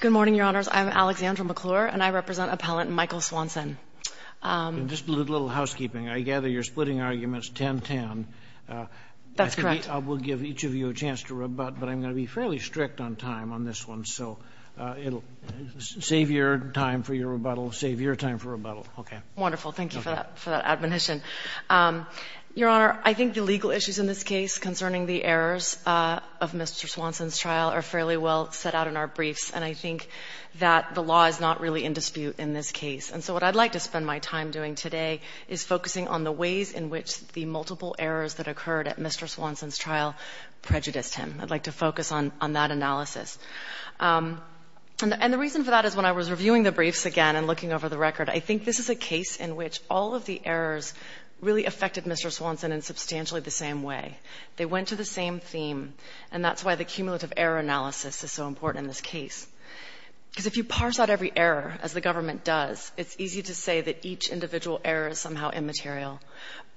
Good morning, Your Honors. I'm Alexandra McClure, and I represent Appellant Michael Swanson. Just a little housekeeping. I gather you're splitting arguments 10-10. That's correct. I will give each of you a chance to rebut, but I'm going to be fairly strict on time on this one. So save your time for your rebuttal. Save your time for rebuttal. Okay. Wonderful. Thank you for that admonition. Your Honor, I think the legal issues in this case concerning the errors of Mr. Swanson's trial are fairly well set out in our briefs, and I think that the law is not really in dispute in this case. And so what I'd like to spend my time doing today is focusing on the ways in which the multiple errors that occurred at Mr. Swanson's trial prejudiced him. I'd like to focus on that analysis. And the reason for that is when I was reviewing the briefs again and looking over the record, I think this is a case in which all of the errors really affected Mr. Swanson in substantially the same way. They went to the same theme, and that's why the cumulative error analysis is so important in this case. Because if you parse out every error, as the government does, it's easy to say that each individual error is somehow immaterial.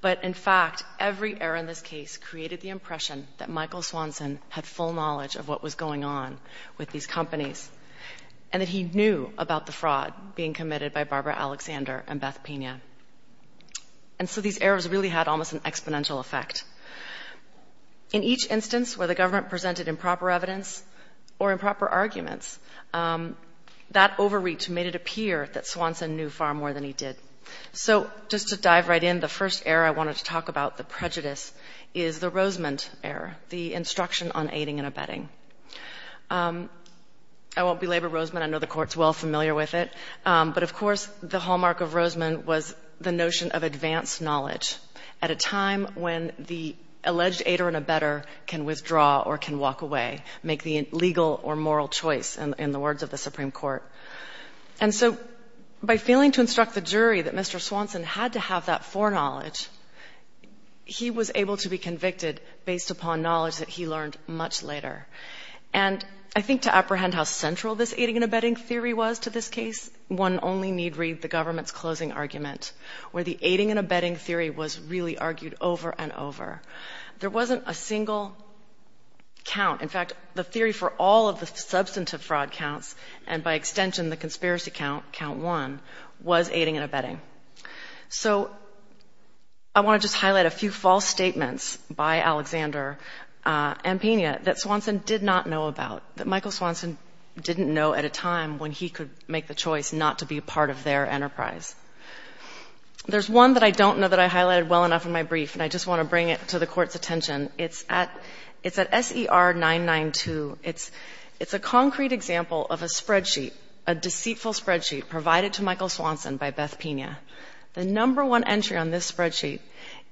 But, in fact, every error in this case created the impression that Michael Swanson had full knowledge of what was going on with these companies and that he knew about the fraud being committed by Barbara Alexander and Beth Pina. And so these errors really had almost an exponential effect. In each instance where the government presented improper evidence or improper arguments, that overreach made it appear that Swanson knew far more than he did. So just to dive right in, the first error I wanted to talk about, the prejudice, is the Rosemond error, the instruction on aiding and abetting. I won't belabor Rosemond. I know the Court's well familiar with it. But, of course, the hallmark of Rosemond was the notion of advanced knowledge at a time when the alleged aider and abetter can withdraw or can walk away, make the legal or moral choice, in the words of the Supreme Court. And so by failing to instruct the jury that Mr. Swanson had to have that foreknowledge, he was able to be convicted based upon knowledge that he learned much later. And I think to apprehend how central this aiding and abetting theory was to this case, one only need read the government's closing argument where the aiding and abetting theory was really argued over and over. There wasn't a single count. In fact, the theory for all of the substantive fraud counts and, by extension, the conspiracy count, count one, was aiding and abetting. So I want to just highlight a few false statements by Alexander and Pena that Swanson did not know about, that Michael Swanson didn't know at a time when he could make the choice not to be a part of their enterprise. There's one that I don't know that I highlighted well enough in my brief, and I just want to bring it to the Court's attention. It's at SER 992. It's a concrete example of a spreadsheet, a deceitful spreadsheet provided to Michael Swanson by Beth Pena. The number one entry on this spreadsheet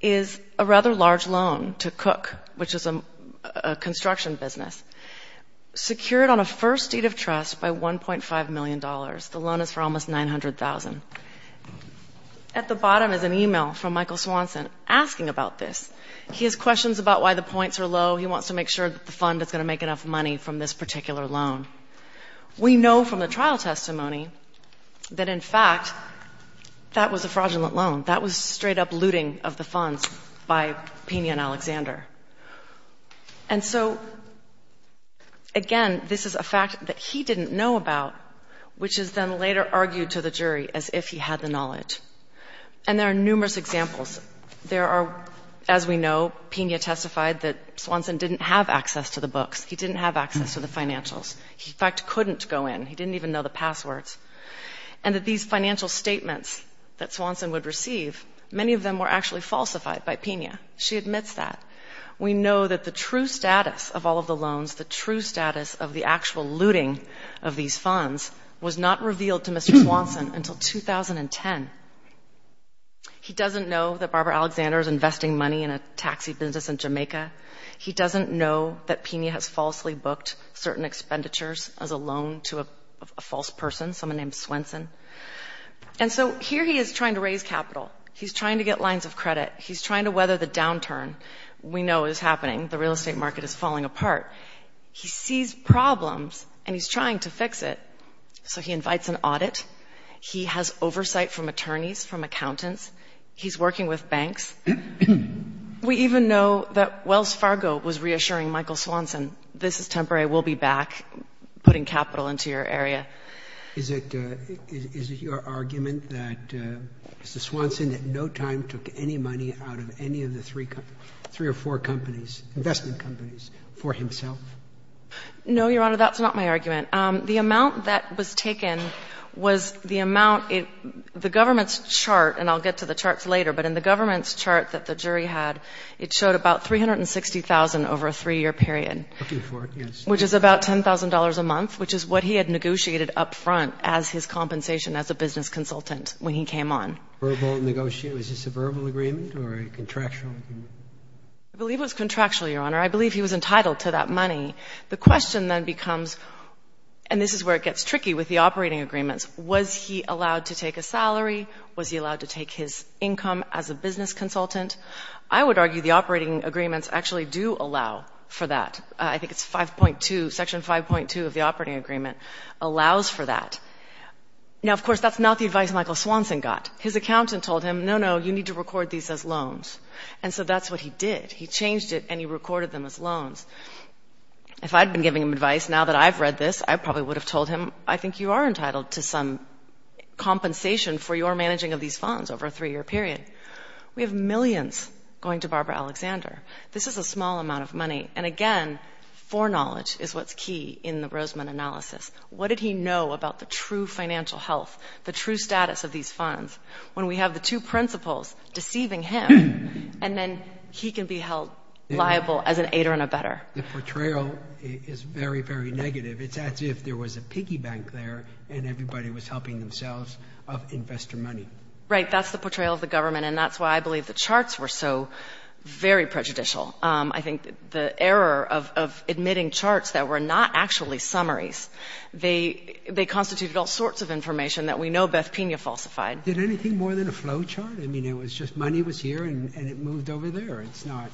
is a rather large loan to Cook, which is a construction business, secured on a first deed of trust by $1.5 million. The loan is for almost $900,000. At the bottom is an email from Michael Swanson asking about this. He has questions about why the points are low. He wants to make sure that the fund is going to make enough money from this particular loan. We know from the trial testimony that, in fact, that was a fraudulent loan. That was straight-up looting of the funds by Pena and Alexander. And so, again, this is a fact that he didn't know about, which is then later argued to the jury as if he had the knowledge. And there are numerous examples. There are, as we know, Pena testified that Swanson didn't have access to the books. He didn't have access to the financials. He, in fact, couldn't go in. He didn't even know the passwords. And that these financial statements that Swanson would receive, many of them were actually falsified by Pena. She admits that. We know that the true status of all of the loans, the true status of the actual looting of these funds, was not revealed to Mr. Swanson until 2010. He doesn't know that Barbara Alexander is investing money in a taxi business in Jamaica. He doesn't know that Pena has falsely booked certain expenditures as a loan to a false person, someone named Swanson. And so here he is trying to raise capital. He's trying to get lines of credit. He's trying to weather the downturn. We know it is happening. The real estate market is falling apart. He sees problems, and he's trying to fix it. So he invites an audit. He has oversight from attorneys, from accountants. He's working with banks. We even know that Wells Fargo was reassuring Michael Swanson, this is temporary, we'll be back, putting capital into your area. Is it your argument that Mr. Swanson at no time took any money out of any of the three or four companies, investment companies, for himself? No, Your Honor, that's not my argument. The amount that was taken was the amount, the government's chart, and I'll get to the charts later, but in the government's chart that the jury had, it showed about $360,000 over a three-year period. Looking for it, yes. Which is about $10,000 a month, which is what he had negotiated up front as his compensation as a business consultant when he came on. Verbal negotiation. Is this a verbal agreement or a contractual agreement? I believe it was contractual, Your Honor. I believe he was entitled to that money. The question then becomes, and this is where it gets tricky with the operating agreements, was he allowed to take a salary? Was he allowed to take his income as a business consultant? I would argue the operating agreements actually do allow for that. I think it's 5.2, Section 5.2 of the operating agreement allows for that. Now, of course, that's not the advice Michael Swanson got. His accountant told him, no, no, you need to record these as loans. And so that's what he did. He changed it and he recorded them as loans. If I'd been giving him advice now that I've read this, I probably would have told him, I think you are entitled to some compensation for your managing of these funds over a three-year period. We have millions going to Barbara Alexander. This is a small amount of money. And, again, foreknowledge is what's key in the Roseman analysis. What did he know about the true financial health, the true status of these funds, when we have the two principals deceiving him, and then he can be held liable as an aider and a better. The portrayal is very, very negative. It's as if there was a piggy bank there and everybody was helping themselves of investor money. Right. That's the portrayal of the government, and that's why I believe the charts were so very prejudicial. I think the error of admitting charts that were not actually summaries, they constituted all sorts of information that we know Beth Pina falsified. Did anything more than a flow chart? I mean, it was just money was here and it moved over there. It's not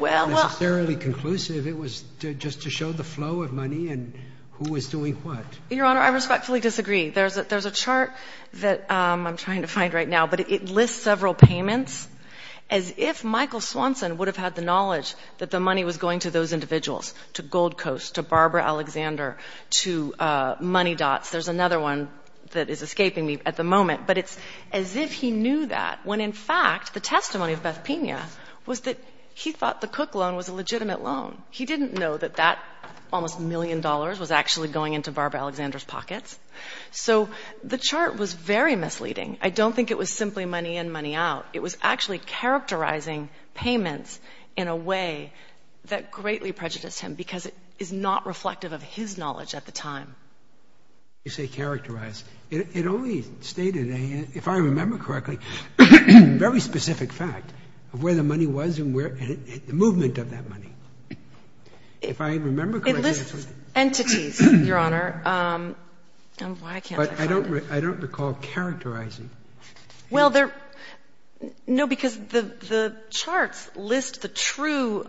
necessarily conclusive. It was just to show the flow of money and who was doing what. Your Honor, I respectfully disagree. There's a chart that I'm trying to find right now, but it lists several payments. As if Michael Swanson would have had the knowledge that the money was going to those individuals, to Gold Coast, to Barbara Alexander, to Money Dots. There's another one that is escaping me at the moment, but it's as if he knew that, when in fact the testimony of Beth Pina was that he thought the Cook loan was a legitimate loan. He didn't know that that almost million dollars was actually going into Barbara Alexander's pockets. So the chart was very misleading. I don't think it was simply money in, money out. It was actually characterizing payments in a way that greatly prejudiced him because it is not reflective of his knowledge at the time. You say characterized. It only stated, if I remember correctly, a very specific fact of where the money was and the movement of that money. If I remember correctly, that's what it did. It lists entities, Your Honor. Why can't I find it? But I don't recall characterizing. Well, there, no, because the charts list the true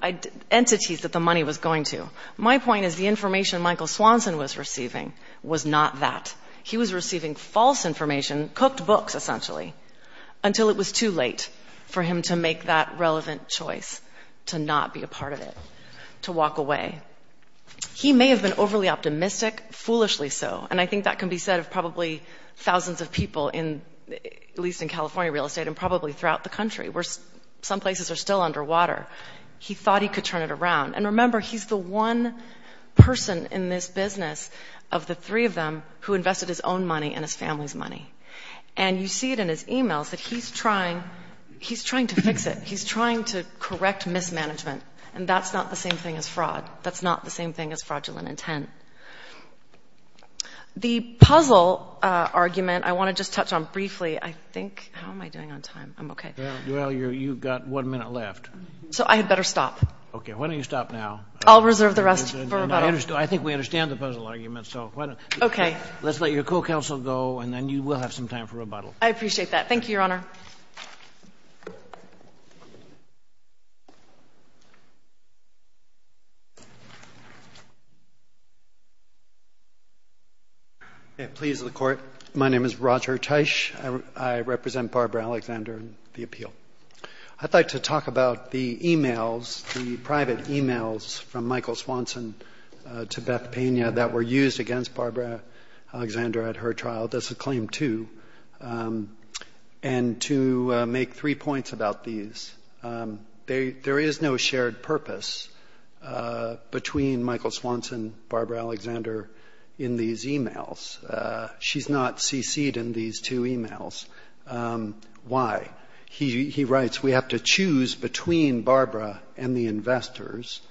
entities that the money was going to. My point is the information Michael Swanson was receiving was not that. He was receiving false information, cooked books essentially, until it was too late for him to make that relevant choice to not be a part of it, to walk away. He may have been overly optimistic, foolishly so, and I think that can be said of probably thousands of people, at least in California real estate and probably throughout the country where some places are still underwater. He thought he could turn it around. And remember, he's the one person in this business of the three of them who invested his own money and his family's money. And you see it in his emails that he's trying to fix it. He's trying to correct mismanagement, and that's not the same thing as fraud. That's not the same thing as fraudulent intent. The puzzle argument I want to just touch on briefly, I think. How am I doing on time? I'm okay. Well, you've got one minute left. So I had better stop. Okay. Why don't you stop now? I'll reserve the rest for rebuttal. I think we understand the puzzle argument, so why don't you. Okay. Let's let your co-counsel go, and then you will have some time for rebuttal. I appreciate that. Thank you, Your Honor. Thank you, Your Honor. Please, the Court. My name is Roger Teich. I represent Barbara Alexander and the appeal. I'd like to talk about the emails, the private emails from Michael Swanson to Beth Pena that were used against Barbara Alexander at her trial. That's a claim, too. And to make three points about these. There is no shared purpose between Michael Swanson and Barbara Alexander in these emails. She's not CC'd in these two emails. Why? He writes, we have to choose between Barbara and the investors.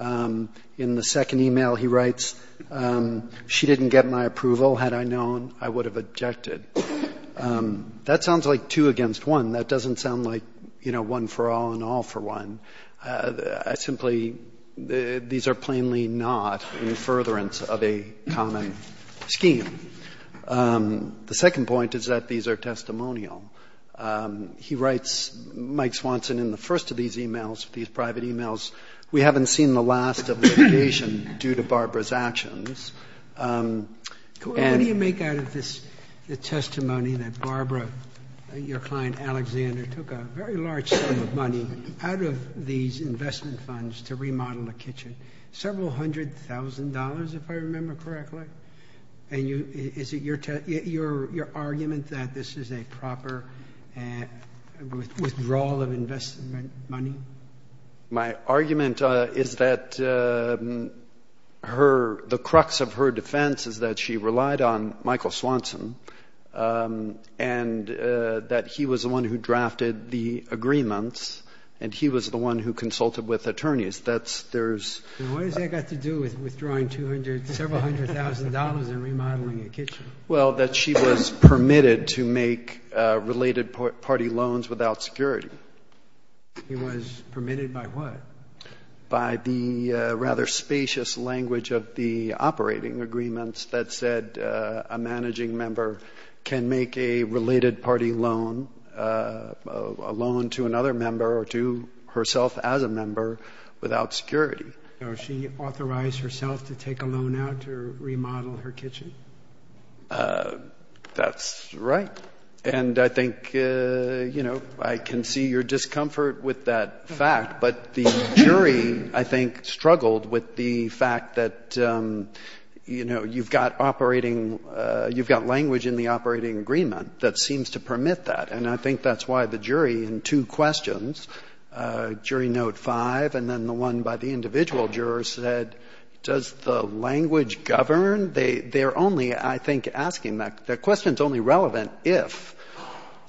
In the second email, he writes, she didn't get my approval. Had I known, I would have objected. That sounds like two against one. That doesn't sound like, you know, one for all and all for one. Simply, these are plainly not in furtherance of a common scheme. The second point is that these are testimonial. He writes, Mike Swanson, in the first of these emails, these private emails, we haven't seen the last of litigation due to Barbara's actions. What do you make out of this testimony that Barbara, your client Alexander, took a very large sum of money out of these investment funds to remodel a kitchen? Several hundred thousand dollars, if I remember correctly. And is it your argument that this is a proper withdrawal of investment money? My argument is that the crux of her defense is that she relied on Michael Swanson and that he was the one who drafted the agreements and he was the one who consulted with attorneys. What has that got to do with withdrawing several hundred thousand dollars and remodeling a kitchen? Well, that she was permitted to make related party loans without security. He was permitted by what? By the rather spacious language of the operating agreements that said a managing member can make a related party loan, a loan to another member or to herself as a member, without security. So she authorized herself to take a loan out to remodel her kitchen? That's right. And I think, you know, I can see your discomfort with that fact. But the jury, I think, struggled with the fact that, you know, you've got operating, you've got language in the operating agreement that seems to permit that. And I think that's why the jury in two questions, jury note five, and then the one by the individual juror said, does the language govern? They're only, I think, asking that question is only relevant if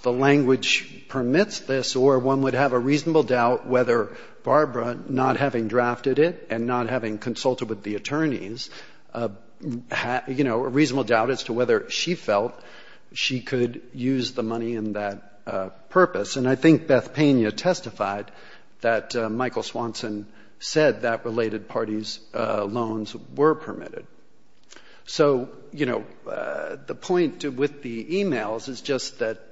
the language permits this or one would have a reasonable doubt whether Barbara, not having drafted it and not having consulted with the attorneys, you know, a reasonable doubt as to whether she felt she could use the money in that purpose. And I think Beth Pena testified that Michael Swanson said that related parties' loans were permitted. So, you know, the point with the e-mails is just that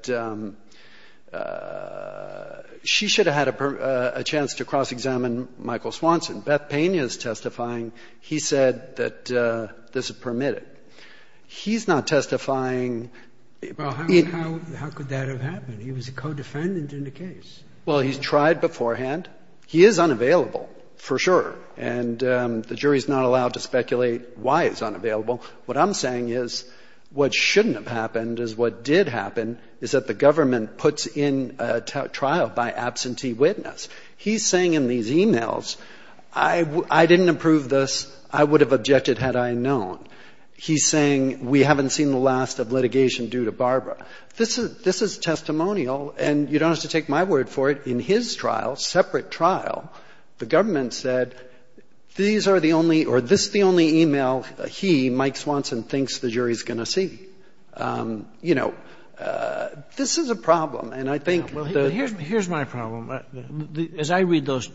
she should have had a chance to cross-examine Michael Swanson. Beth Pena is testifying. He said that this is permitted. He's not testifying. How could that have happened? He was a co-defendant in the case. Well, he's tried beforehand. He is unavailable, for sure. And the jury is not allowed to speculate why he's unavailable. What I'm saying is what shouldn't have happened is what did happen, is that the government puts in a trial by absentee witness. He's saying in these e-mails, I didn't approve this, I would have objected had I known. He's saying we haven't seen the last of litigation due to Barbara. This is testimonial. And you don't have to take my word for it. In his trial, separate trial, the government said these are the only or this is the only e-mail he, Mike Swanson, thinks the jury is going to see. You know, this is a problem. And I think the ---- Here's my problem. As I read those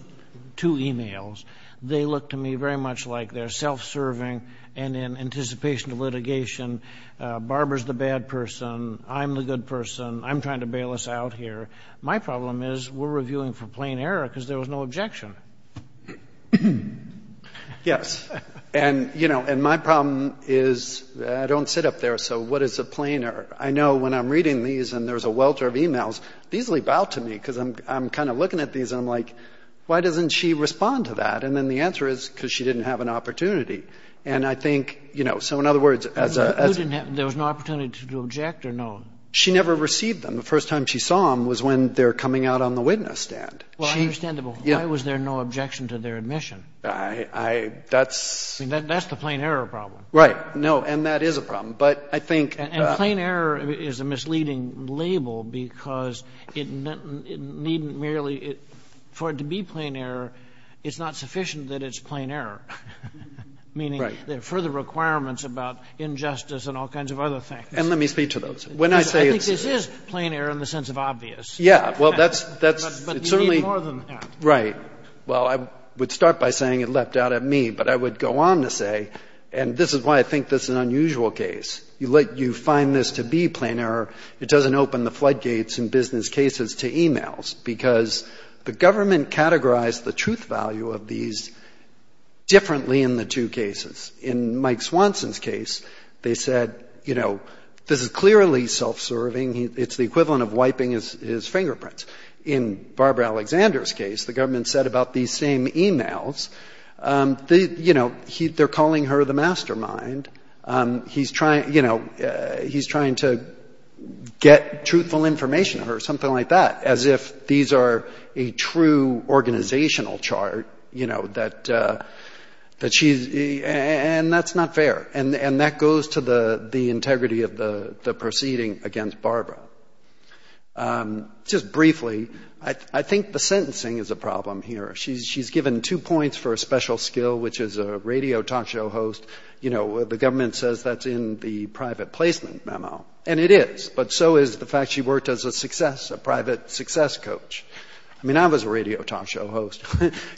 two e-mails, they look to me very much like they're self-serving and in anticipation of litigation, Barbara's the bad person, I'm the good person, I'm trying to bail us out here. My problem is we're reviewing for plain error because there was no objection. Yes. And, you know, and my problem is I don't sit up there, so what is a plain error? I know when I'm reading these and there's a welter of e-mails, these leap out to me because I'm kind of looking at these and I'm like, why doesn't she respond to that? And then the answer is because she didn't have an opportunity. And I think, you know, so in other words, as a ---- There was no opportunity to object or no? She never received them. The first time she saw them was when they were coming out on the witness stand. Well, understandable. Why was there no objection to their admission? I, that's ---- That's the plain error problem. Right. No, and that is a problem. But I think ---- And plain error is a misleading label because it needn't merely ---- for it to be plain error, it's not sufficient that it's plain error. Right. Meaning there are further requirements about injustice and all kinds of other things. And let me speak to those. When I say it's ---- I think this is plain error in the sense of obvious. Yeah. Well, that's certainly ---- But you need more than that. Right. Well, I would start by saying it leapt out at me, but I would go on to say, and this is why I think this is an unusual case. You find this to be plain error, it doesn't open the floodgates in business cases to e-mails. Because the government categorized the truth value of these differently in the two cases. In Mike Swanson's case, they said, you know, this is clearly self-serving, it's the equivalent of wiping his fingerprints. In Barbara Alexander's case, the government said about these same e-mails, you know, they're calling her the mastermind, he's trying, you know, he's trying to get truthful information from her, something like that, as if these are a true organizational chart, you know, that she's ---- and that's not fair. And that goes to the integrity of the proceeding against Barbara. Just briefly, I think the sentencing is a problem here. She's given two points for a special skill, which is a radio talk show host. You know, the government says that's in the private placement memo, and it is. But so is the fact she worked as a success, a private success coach. I mean, I was a radio talk show host.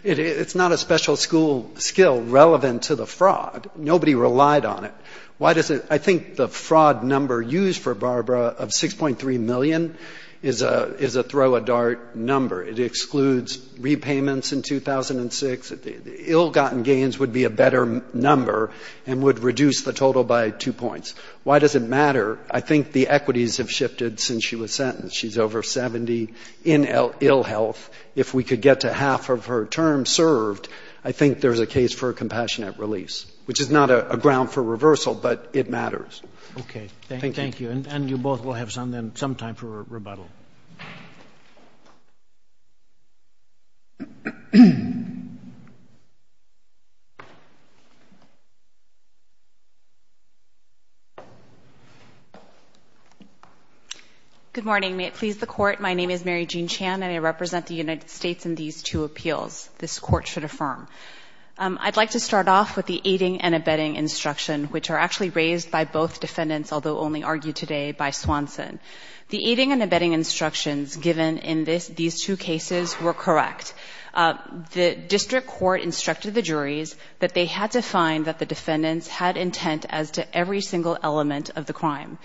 It's not a special school skill relevant to the fraud. Nobody relied on it. Why does it ---- I think the fraud number used for Barbara of 6.3 million is a throw-a-dart number. It excludes repayments in 2006. Ill-gotten gains would be a better number and would reduce the total by two points. Why does it matter? I think the equities have shifted since she was sentenced. She's over 70 in ill health. If we could get to half of her term served, I think there's a case for a compassionate release, which is not a ground for reversal, but it matters. Okay. Thank you. And you both will have some time for rebuttal. Good morning. May it please the Court, my name is Mary Jean Chan, and I represent the United States in these two appeals. This Court should affirm. I'd like to start off with the aiding and abetting instruction, which are actually raised by both defendants, although only argued today by Swanson. The aiding and abetting instructions given in these two cases were correct. The district court instructed the juries that they had to find that the defendants had intent as to every single element of the crime,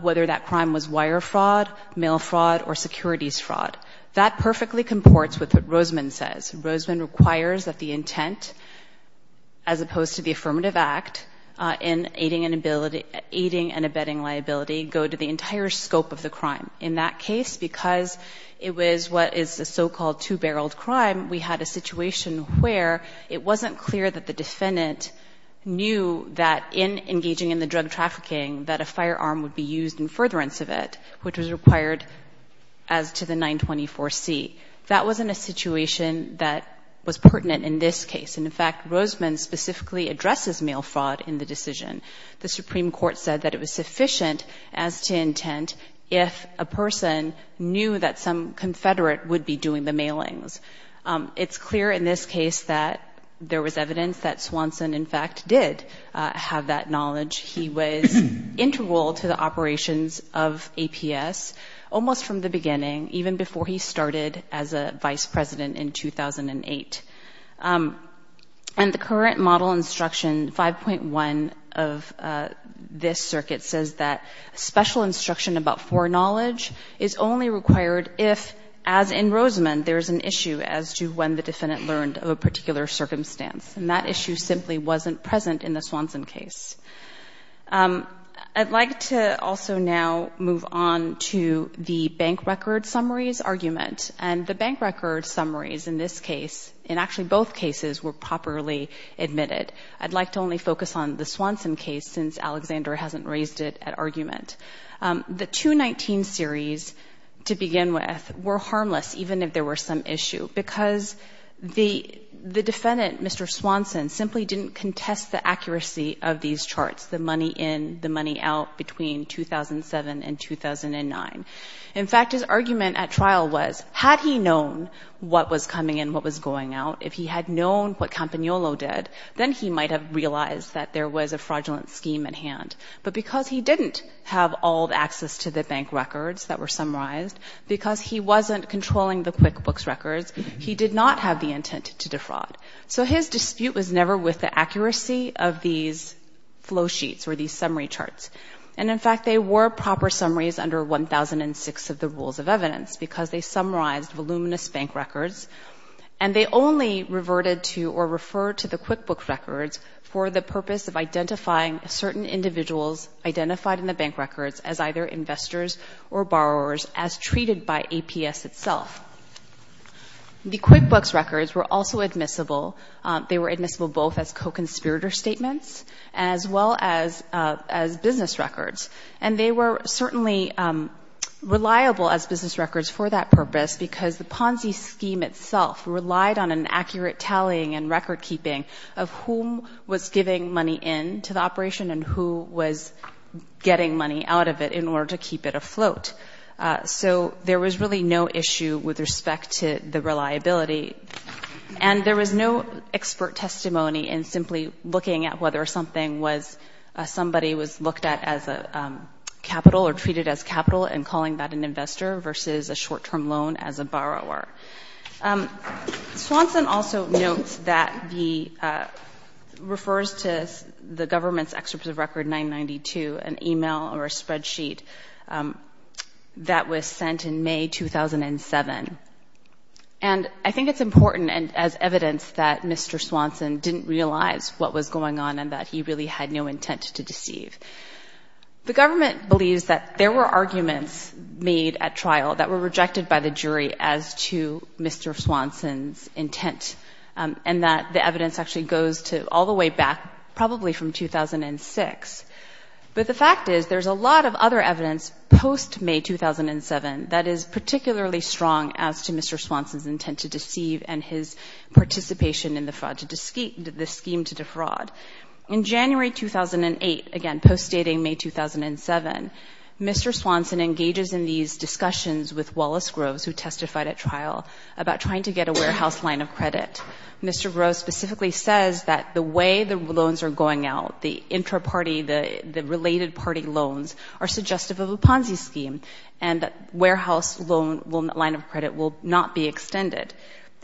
whether that crime was wire fraud, mail fraud, or securities fraud. That perfectly comports with what Rosman says. Rosman requires that the intent, as opposed to the affirmative act, in aiding and abetting liability, go to the entire scope of the crime. In that case, because it was what is a so-called two-barreled crime, we had a situation where it wasn't clear that the defendant knew that in engaging in the drug trafficking, that a firearm would be used in furtherance of it, which was required as to the 924C. That wasn't a situation that was pertinent in this case. And, in fact, Rosman specifically addresses mail fraud in the decision. The Supreme Court said that it was sufficient as to intent if a person knew that some confederate would be doing the mailings. It's clear in this case that there was evidence that Swanson, in fact, did have that knowledge. He was integral to the operations of APS almost from the beginning, even before he started as a vice president in 2008. And the current model instruction, 5.1 of this circuit, says that special instruction about foreknowledge is only required if, as in Rosman, there is an issue as to when the defendant learned of a particular circumstance. And that issue simply wasn't present in the Swanson case. I'd like to also now move on to the bank record summaries argument. And the bank record summaries in this case, in actually both cases, were properly admitted. I'd like to only focus on the Swanson case, since Alexander hasn't raised it at argument. The 219 series, to begin with, were harmless, even if there were some issue, because the defendant, Mr. Swanson, simply didn't contest the accuracy of these charts, the money in, the money out, between 2007 and 2009. In fact, his argument at trial was, had he known what was coming in, what was going out, if he had known what Campagnolo did, then he might have realized that there was a fraudulent scheme at hand. But because he didn't have all the access to the bank records that were summarized, because he wasn't controlling the QuickBooks records, he did not have the intent to defraud. So his dispute was never with the accuracy of these flow sheets or these summary charts. And, in fact, they were proper summaries under 1006 of the rules of evidence, because they summarized voluminous bank records, and they only reverted to or referred to the QuickBooks records for the purpose of identifying certain individuals identified in the bank records as either investors or borrowers, as treated by APS itself. The QuickBooks records were also admissible. They were admissible both as co-conspirator statements, as well as business records. And they were certainly reliable as business records for that purpose, because the Ponzi scheme itself relied on an accurate tallying and record-keeping of whom was giving money into the operation and who was getting money out of it in order to keep it afloat. So there was really no issue with respect to the reliability. And there was no expert testimony in simply looking at whether somebody was looked at as a capital or treated as capital and calling that an investor versus a short-term loan as a borrower. Swanson also notes that he refers to the government's Excerpt of Record 992, an email or a spreadsheet that was sent in May 2007. And I think it's important as evidence that Mr. Swanson didn't realize what was going on and that he really had no intent to deceive. The government believes that there were arguments made at trial that were rejected by the jury as to Mr. Swanson's intent, and that the evidence actually goes to all the way back probably from 2006. But the fact is there's a lot of other evidence post-May 2007 that is particularly strong as to Mr. Swanson's intent to deceive and his participation in the scheme to defraud. In January 2008, again post-dating May 2007, Mr. Swanson engages in these discussions with Wallace Groves who testified at trial about trying to get a warehouse line of credit. Mr. Groves specifically says that the way the loans are going out, the intra-party, the related party loans are suggestive of a Ponzi scheme, and that warehouse loan line of credit will not be extended.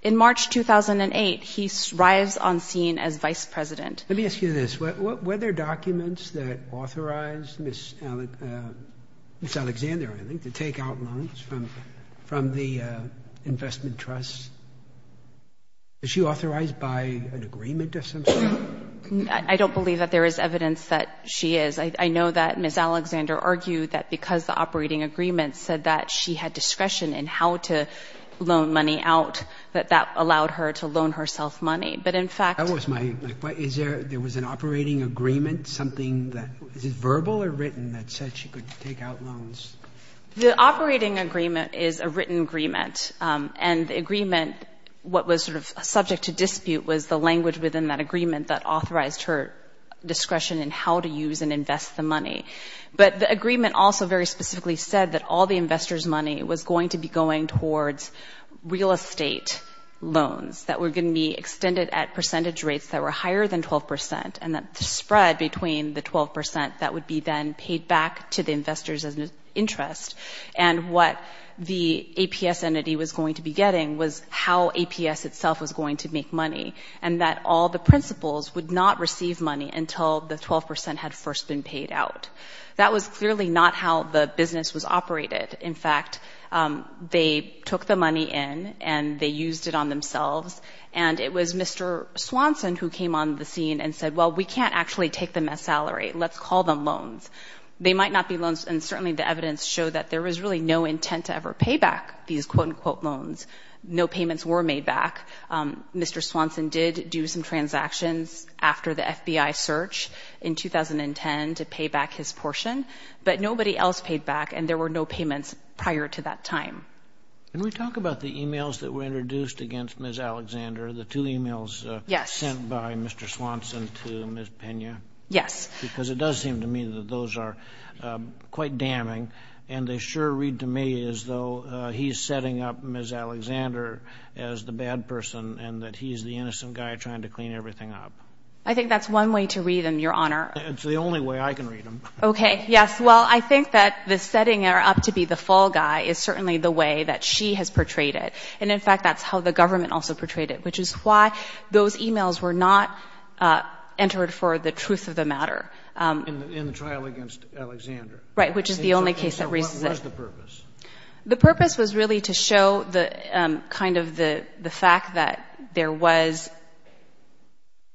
In March 2008, he arrives on scene as vice president. Let me ask you this, were there documents that authorized Ms. Alexander, I think, to take out loans from the investment trusts? Is she authorized by an agreement of some sort? I don't believe that there is evidence that she is. I know that Ms. Alexander argued that because the operating agreement said that she had discretion in how to loan money out, that that allowed her to loan herself money. But in fact... Is it verbal or written that said she could take out loans? The operating agreement is a written agreement, and the agreement, what was sort of subject to dispute was the language within that agreement that authorized her discretion in how to use and invest the money. But the agreement also very specifically said that all the investors' money was going to be going towards real estate loans that were going to be extended at percentage rates that were higher than 12 percent, and that the spread between the 12 percent, that would be then paid back to the investors as an interest. And what the APS entity was going to be getting was how APS itself was going to make money, and that all the principals would not receive money until the 12 percent had first been paid out. That was clearly not how the business was operated. In fact, they took the money in and they used it on themselves, and it was Mr. Swanson who came on the scene and said, well, we can't actually take them as salary. Let's call them loans. They might not be loans, and certainly the evidence showed that there was really no intent to ever pay back these quote-unquote loans. No payments were made back. Mr. Swanson did do some transactions after the FBI search in 2010 to pay back his portion, but nobody else paid back, and there were no payments prior to that time. Can we talk about the e-mails that were introduced against Ms. Alexander, the two e-mails sent by Mr. Swanson to Ms. Pena? Because it does seem to me that those are quite damning, and they sure read to me as though he's setting up Ms. Alexander as the bad person and that he's the innocent guy trying to clean everything up. It's the only way I can read them. Okay, yes, well, I think that the setting up to be the fall guy is certainly the way that she has portrayed it, and in fact that's how the government also portrayed it, which is why those e-mails were not entered for the truth of the matter. In the trial against Alexander? What was the purpose? The purpose was really to show kind of the fact that there was,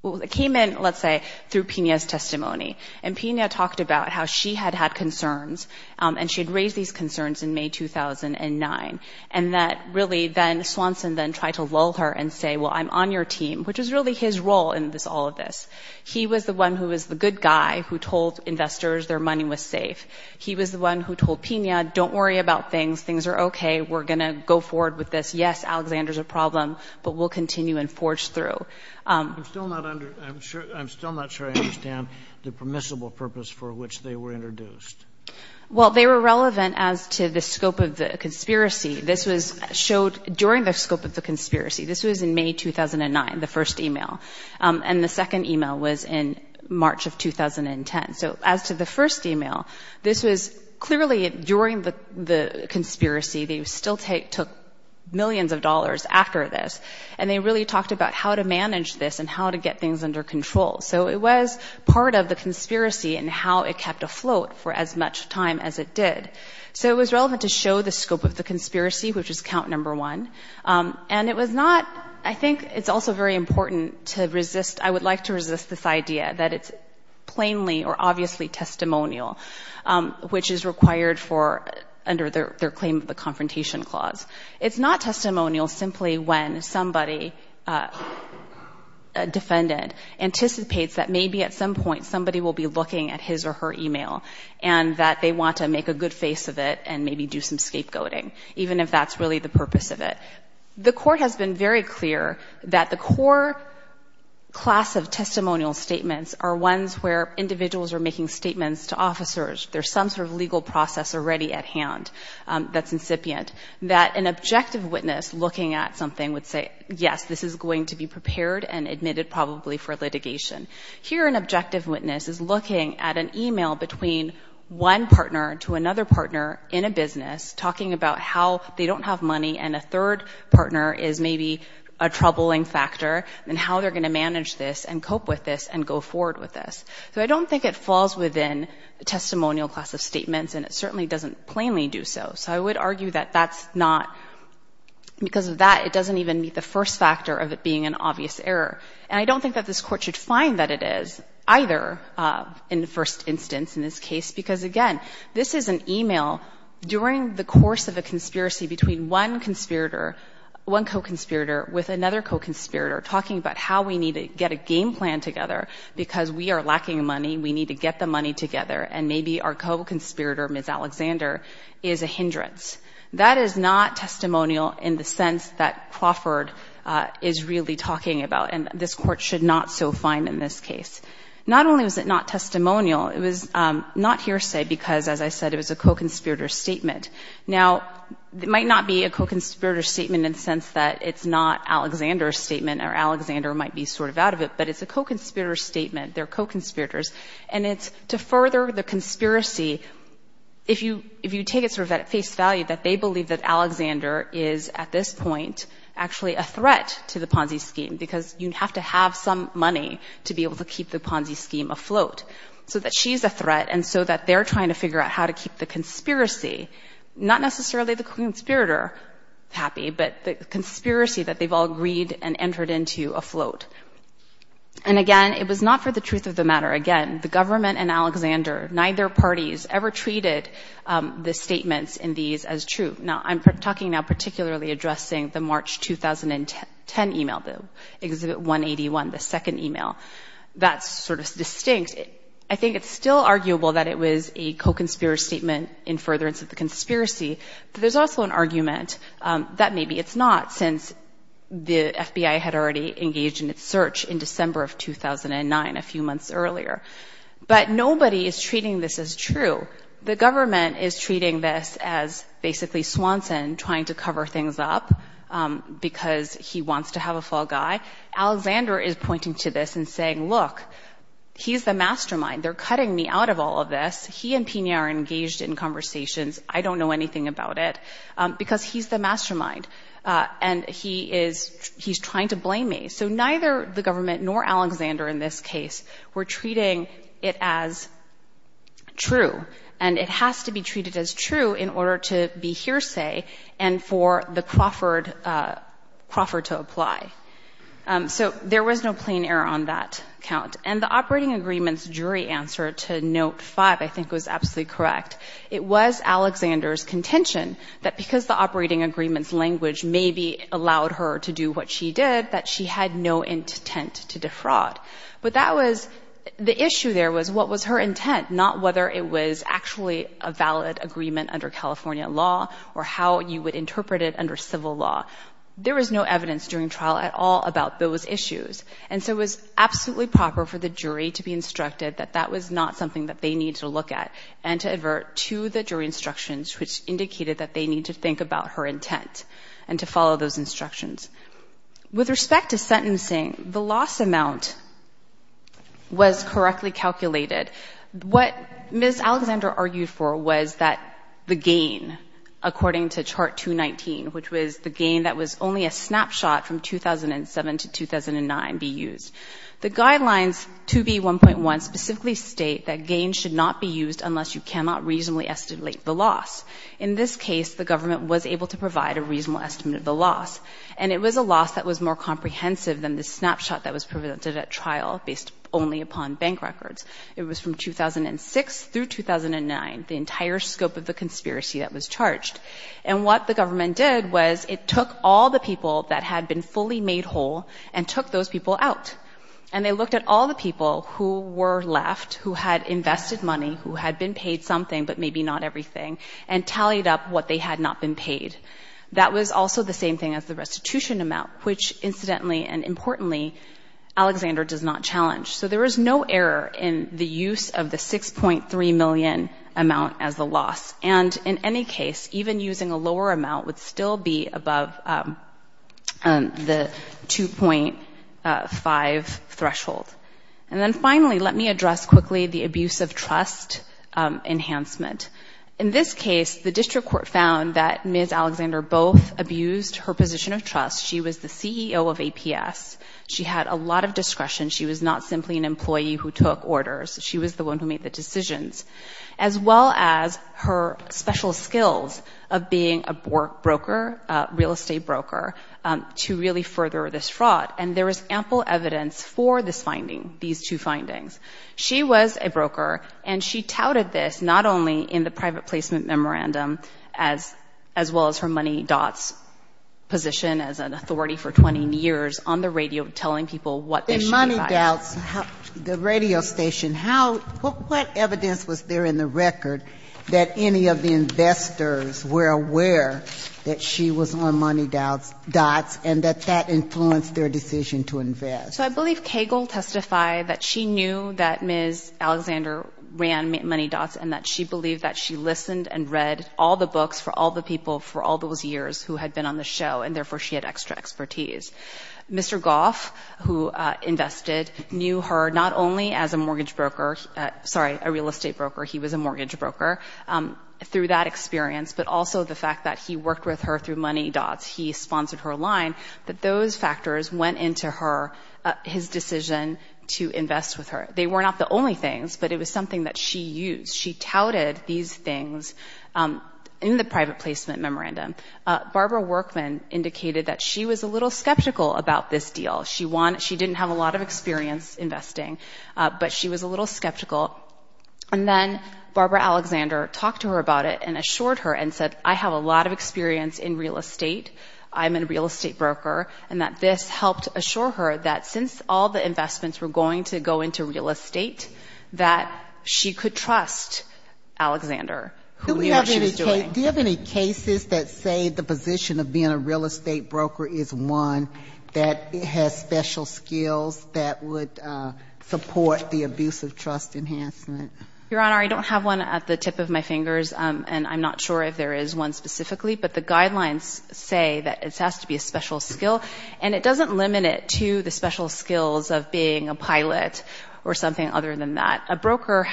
it came in, let's say, through Pena's testimony, and Pena talked about how she had had concerns, and she had raised these concerns in May 2009, and that really then Swanson then tried to lull her and say, well, I'm on your team, which was really his role in all of this. He was the one who was the good guy who told investors their money was safe. He was the one who told Pena, don't worry about things, things are okay, we're going to go forward with this. Yes, Alexander's a problem, but we'll continue and forge through. I'm still not sure I understand the permissible purpose for which they were introduced. Well, they were relevant as to the scope of the conspiracy. This was showed during the scope of the conspiracy. This was in May 2009, the first e-mail, and the second e-mail was in March of 2010. So as to the first e-mail, this was clearly during the conspiracy. They still took millions of dollars after this, and they really talked about how to manage this and how to get things under control. So it was part of the conspiracy and how it kept afloat for as much time as it did. So it was relevant to show the scope of the conspiracy, which is count number one. And it was not, I think it's also very important to resist, I would like to resist this idea that it's plainly or obviously testimonial, which is required for under their claim of the Confrontation Clause. It's not testimonial simply when somebody, a defendant, anticipates that maybe at some point somebody will be looking at his or her e-mail and that they want to make a good face of it and maybe do some scapegoating, even if that's really the purpose of it. The Court has been very clear that the core class of testimonial statements are ones where individuals are making statements to officers, there's some sort of legal process already at hand that's incipient, that an objective witness looking at something would say, yes, this is going to be prepared and admitted probably for litigation. Here an objective witness is looking at an e-mail between one partner to another partner in a business, talking about how they don't have money and a third partner is maybe a troubling factor and how they're going to manage this and cope with this and go forward with this. So I don't think it falls within the testimonial class of statements and it certainly doesn't plainly do so. So I would argue that that's not, because of that it doesn't even meet the first factor of it being an obvious error. And I don't think that this Court should find that it is either in the first instance in this case, because again, this is an e-mail during the course of a conspiracy between one conspirator, one co-conspirator with another co-conspirator talking about how we need to get a game plan together because we are lacking money, we need to get the money together and maybe our co-conspirator, Ms. Alexander, is a hindrance. That is not testimonial in the sense that Crawford is really talking about and this Court should not so find in this case. Not only was it not testimonial, it was not hearsay because, as I said, it was a co-conspirator statement. Now, it might not be a co-conspirator statement in the sense that it's not Alexander's statement or Alexander might be sort of out of it, but it's a co-conspirator statement. They're co-conspirators. And it's to further the conspiracy, if you take it sort of at face value that they believe that Alexander is at this point actually a threat to the Ponzi scheme because you have to have some money to be able to keep the Ponzi scheme afloat so that she's a threat and so that they're trying to figure out how to keep the conspiracy, not necessarily the co-conspirator happy, but the conspiracy that they've all agreed and entered into afloat. And again, it was not for the truth of the matter. Again, the government and Alexander, neither parties ever treated the statements in these as true. Now, I'm talking now particularly addressing the March 2010 email, the Exhibit 181, the second email. That's sort of distinct. I think it's still arguable that it was a co-conspirator statement in furtherance of the conspiracy, but there's also an argument that maybe it's not since the FBI had already engaged in its search in December of 2009, a few months earlier. But nobody is treating this as true. The government is treating this as basically Swanson trying to cover things up because he wants to have a fall guy. Alexander is pointing to this and saying, look, he's the mastermind. They're cutting me out of all of this. He and Pena are engaged in conversations. I don't know anything about it because he's the mastermind and he's trying to blame me. So neither the government nor Alexander in this case were treating it as true. And it has to be treated as true in order to be hearsay and for the Crawford to apply. So there was no plain error on that count. And the operating agreement's jury answer to Note 5 I think was absolutely correct. It was Alexander's contention that because the operating agreement's language maybe allowed her to do what she did, that she had no intent to defraud. But that was the issue there was what was her intent, not whether it was actually a valid agreement under California law or how you would interpret it under civil law. There was no evidence during trial at all about those issues. And so it was absolutely proper for the jury to be instructed that that was not something that they need to look at and to advert to the jury instructions which indicated that they need to think about her intent and to follow those instructions. With respect to sentencing, the loss amount was correctly calculated. What Ms. Alexander argued for was that the gain, according to Chart 219, which was the gain that was only a snapshot from 2007 to 2009 be used. The guidelines 2B1.1 specifically state that gain should not be used unless you cannot reasonably estimate the loss. In this case, the government was able to provide a reasonable estimate of the loss. And it was a loss that was more comprehensive than the snapshot that was presented at trial based only upon bank records. It was from 2006 through 2009, the entire scope of the conspiracy that was charged. And what the government did was it took all the people that had been fully made whole and took those people out. And they looked at all the people who were left, who had invested money, who had been paid something, but maybe not everything, and tallied up what they had not been paid. That was also the same thing as the restitution amount, which, incidentally and importantly, Alexander does not challenge. So there was no error in the use of the 6.3 million amount as the loss. And in any case, even using a lower amount would still be above the 2.5 threshold. And then finally, let me address quickly the abuse of trust enhancement. In this case, the district court found that Ms. Alexander both abused her position of trust. She was the CEO of APS. She had a lot of discretion. She was not simply an employee who took orders. She was the one who made the decisions. As well as her special skills of being a broker, a real estate broker, to really further this fraud. And there is ample evidence for this finding, these two findings. She was a broker, and she touted this not only in the private placement memorandum, as well as her MoneyDots position as an authority for 20 years on the radio, telling people what they should be buying. And MoneyDots, the radio station, how, what evidence was there in the record that any of the investors were aware that she was on MoneyDots, and that that influenced their decision to invest. So I believe Cagle testified that she knew that Ms. Alexander ran MoneyDots, and that she believed that she listened and read all the books for all the people for all those years who had been on the show, and therefore she had extra expertise. Mr. Goff, who invested, knew her not only as a mortgage broker, sorry, a real estate broker, he was a mortgage broker, through that experience, but also the fact that he worked with her through MoneyDots, he sponsored her line, that those factors went into her, his decision to invest with her. They were not the only things, but it was something that she used. She touted these things in the private placement memorandum. Barbara Workman indicated that she was a little skeptical about this deal. She didn't have a lot of experience investing, but she was a little skeptical. And then Barbara Alexander talked to her about it and assured her and said, I have a lot of experience in real estate, I'm a real estate broker, and that this helped assure her that since all the investments were going to go into real estate, that she could trust Alexander. Do we have any cases that say the position of being a real estate broker is one that has special skills that would support the abuse of trust enhancement? Your Honor, I don't have one at the tip of my fingers, and I'm not sure if there is one specifically, but the guidelines say that it has to be a special skill, and it doesn't limit it to the special skills of being a pilot or something other than that.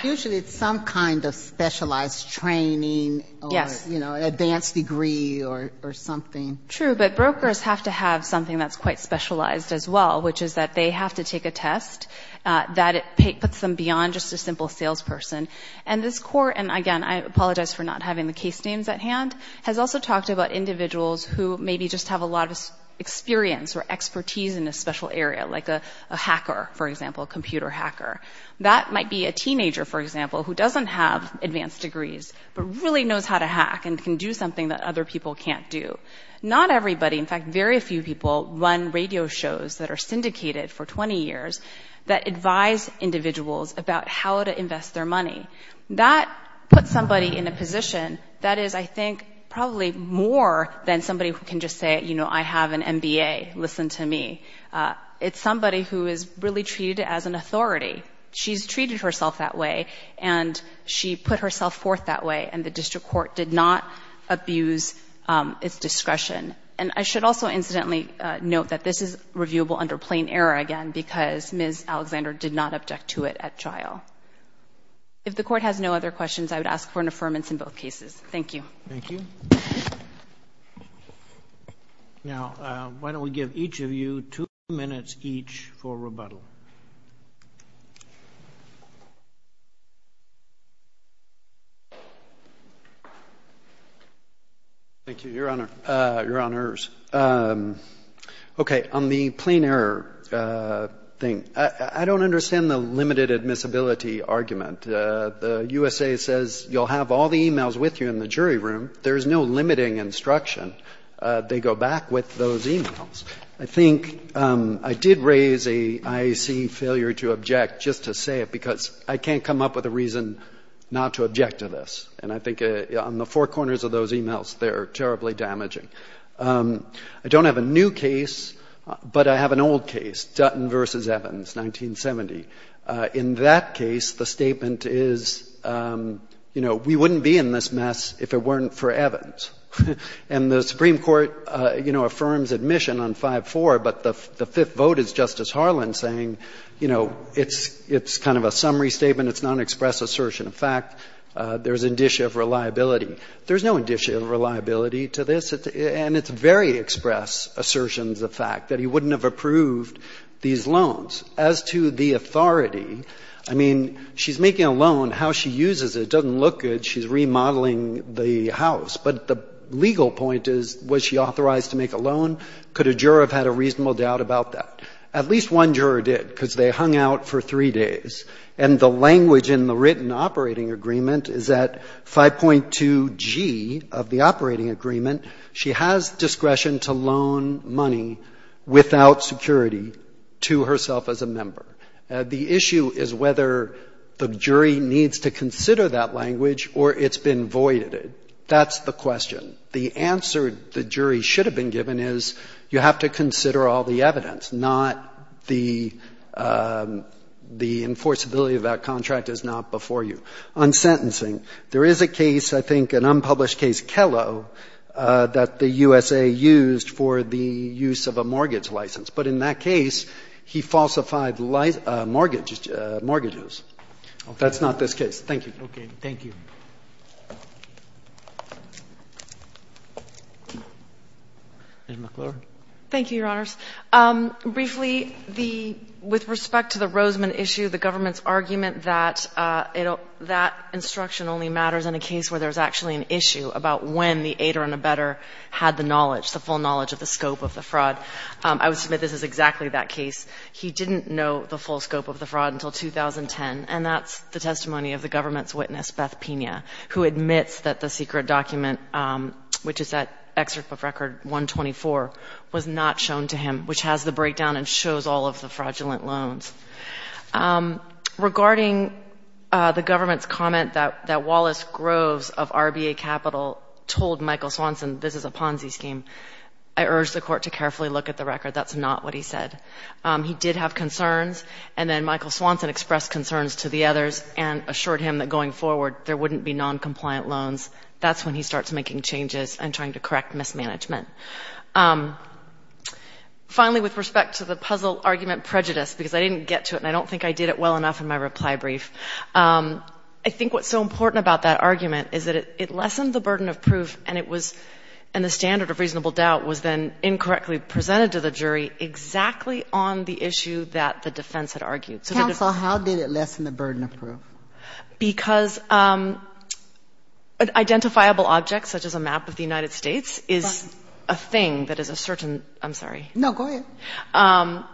Usually it's some kind of specialized training or, you know, advanced degree or something. True, but brokers have to have something that's quite specialized as well, which is that they have to take a test that puts them beyond just a simple salesperson. And this Court, and again, I apologize for not having the case names at hand, has also talked about individuals who maybe just have a lot of experience or expertise in a special area, like a hacker, for example, a computer hacker. That might be a teenager, for example, who doesn't have advanced degrees, but really knows how to hack and can do something that other people can't do. Not everybody, in fact, very few people run radio shows that are syndicated for 20 years that advise individuals about how to invest their money. That puts somebody in a position that is, I think, probably more than somebody who can just say, you know, I have an MBA, listen to me. It's somebody who is really treated as an authority. She's treated herself that way, and she put herself forth that way, and the District Court did not abuse its discretion. And I should also incidentally note that this is reviewable under plain error again because Ms. Alexander did not object to it at trial. If the Court has no other questions, I would ask for an affirmance in both cases. Thank you. Thank you. Now, why don't we give each of you two minutes each for rebuttal. Thank you, Your Honor. Okay, on the plain error thing, I don't understand the limited admissibility argument. The USA says you'll have all the e-mails with you in the jury room. There's no limiting instruction. They go back with those e-mails. I think I did raise a IAC failure to object just to say it because I can't come up with a reason not to object to this. And I think on the four corners of those e-mails, they're terribly damaging. I don't have a new case, but I have an old case, Dutton v. Evans, 1970. In that case, the statement is, you know, we wouldn't be in this mess if it weren't for Evans. And the Supreme Court, you know, affirms admission on 5-4, but the fifth vote is Justice Harlan saying, you know, it's kind of a summary statement, it's not an express assertion. In fact, there's indicia of reliability. There's no indicia of reliability to this, and it's very express assertions of fact that he wouldn't have approved these loans. As to the authority, I mean, she's making a loan. How she uses it doesn't look good. She's remodeling the house. But the legal point is, was she authorized to make a loan? Could a juror have had a reasonable doubt about that? At least one juror did because they hung out for three days. And the language in the written operating agreement is that 5.2G of the operating agreement, she has discretion to loan money without security to herself as a member. The issue is whether the jury needs to consider that language or it's been voided. That's the question. The answer the jury should have been given is you have to consider all the evidence, not the enforceability of that contract is not before you. The other thing I would like to point out is that there is a case, I think an unpublished case, Kelo, that the USA used for the use of a mortgage license. But in that case, he falsified mortgages. That's not this case. Thank you. Ms. McClure. Thank you, Your Honors. Briefly, the — with respect to the Roseman issue, the government's argument that that instruction only matters in a case where there's actually an issue about when the aider and abetter had the knowledge, the full knowledge of the scope of the fraud, I would submit this is exactly that case. He didn't know the full scope of the fraud until 2010, and that's the testimony of the government's witness, Beth Pina, who admits that the secret document, which is that excerpt of Record 124, was not shown to him, which has the breakdown and shows all of the fraudulent loans. Regarding the government's comment that Wallace Groves of RBA Capital told Michael Swanson this is a Ponzi scheme, I urge the Court to carefully look at the record. That's not what he said. He did have concerns, and then Michael Swanson expressed concerns to the others and assured him that going forward there wouldn't be noncompliant loans. That's when he starts making changes and trying to correct mismanagement. Finally, with respect to the puzzle argument prejudice, because I didn't get to it and I don't think I did it well enough in my reply brief, I think what's so important about that argument is that it lessened the burden of proof and it was — and the standard of reasonable doubt was then incorrectly presented to the jury exactly on the issue that the defense had argued. Counsel, how did it lessen the burden of proof? Because an identifiable object, such as a map of the United States, is a thing that is a certain — I'm sorry. No, go ahead.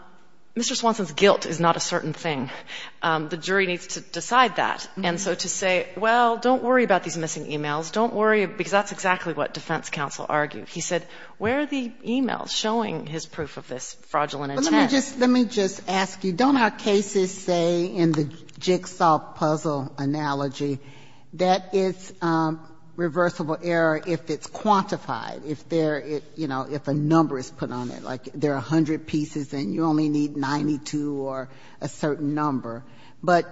Mr. Swanson's guilt is not a certain thing. The jury needs to decide that. And so to say, well, don't worry about these missing emails, don't worry — because that's exactly what defense counsel argued. He said, where are the emails showing his proof of this fraudulent attempt? Let me just ask you, don't our cases say in the jigsaw puzzle analogy that it's reversible error if it's quantified, if there — you know, if a number is put on it, like there are 100 pieces and you only need 92 or a certain number? But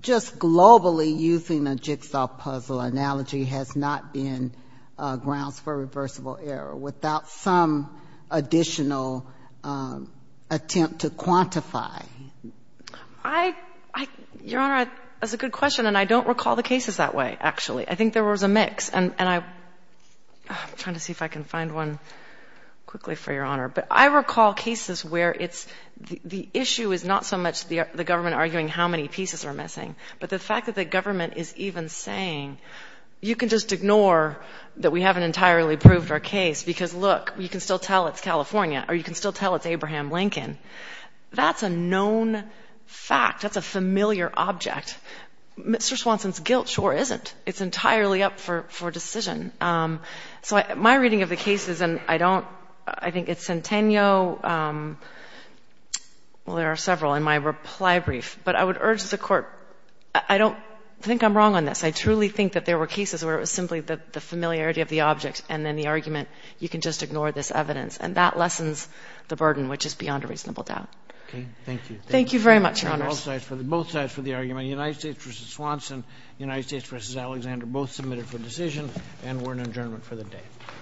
just globally using a jigsaw puzzle analogy has not been grounds for reversible error. Without some additional attempt to quantify. I — Your Honor, that's a good question. And I don't recall the cases that way, actually. I think there was a mix. And I'm trying to see if I can find one quickly, for Your Honor. But I recall cases where it's — the issue is not so much the government arguing how many pieces are missing, but the fact that the government is even saying, you can just ignore that we haven't entirely proved our case because look, you can still tell it's California, or you can still tell it's Abraham Lincoln. That's a known fact. That's a familiar object. Mr. Swanson's guilt sure isn't. It's entirely up for decision. So my reading of the cases, and I don't — I think it's Centennial — well, there are several in my reply brief. But I would urge the Court — I don't think I'm wrong on this. I truly think that there were cases where it was simply the familiarity of the object and then the argument, you can just ignore this evidence. And that lessens the burden, which is beyond a reasonable doubt. Thank you very much, Your Honors.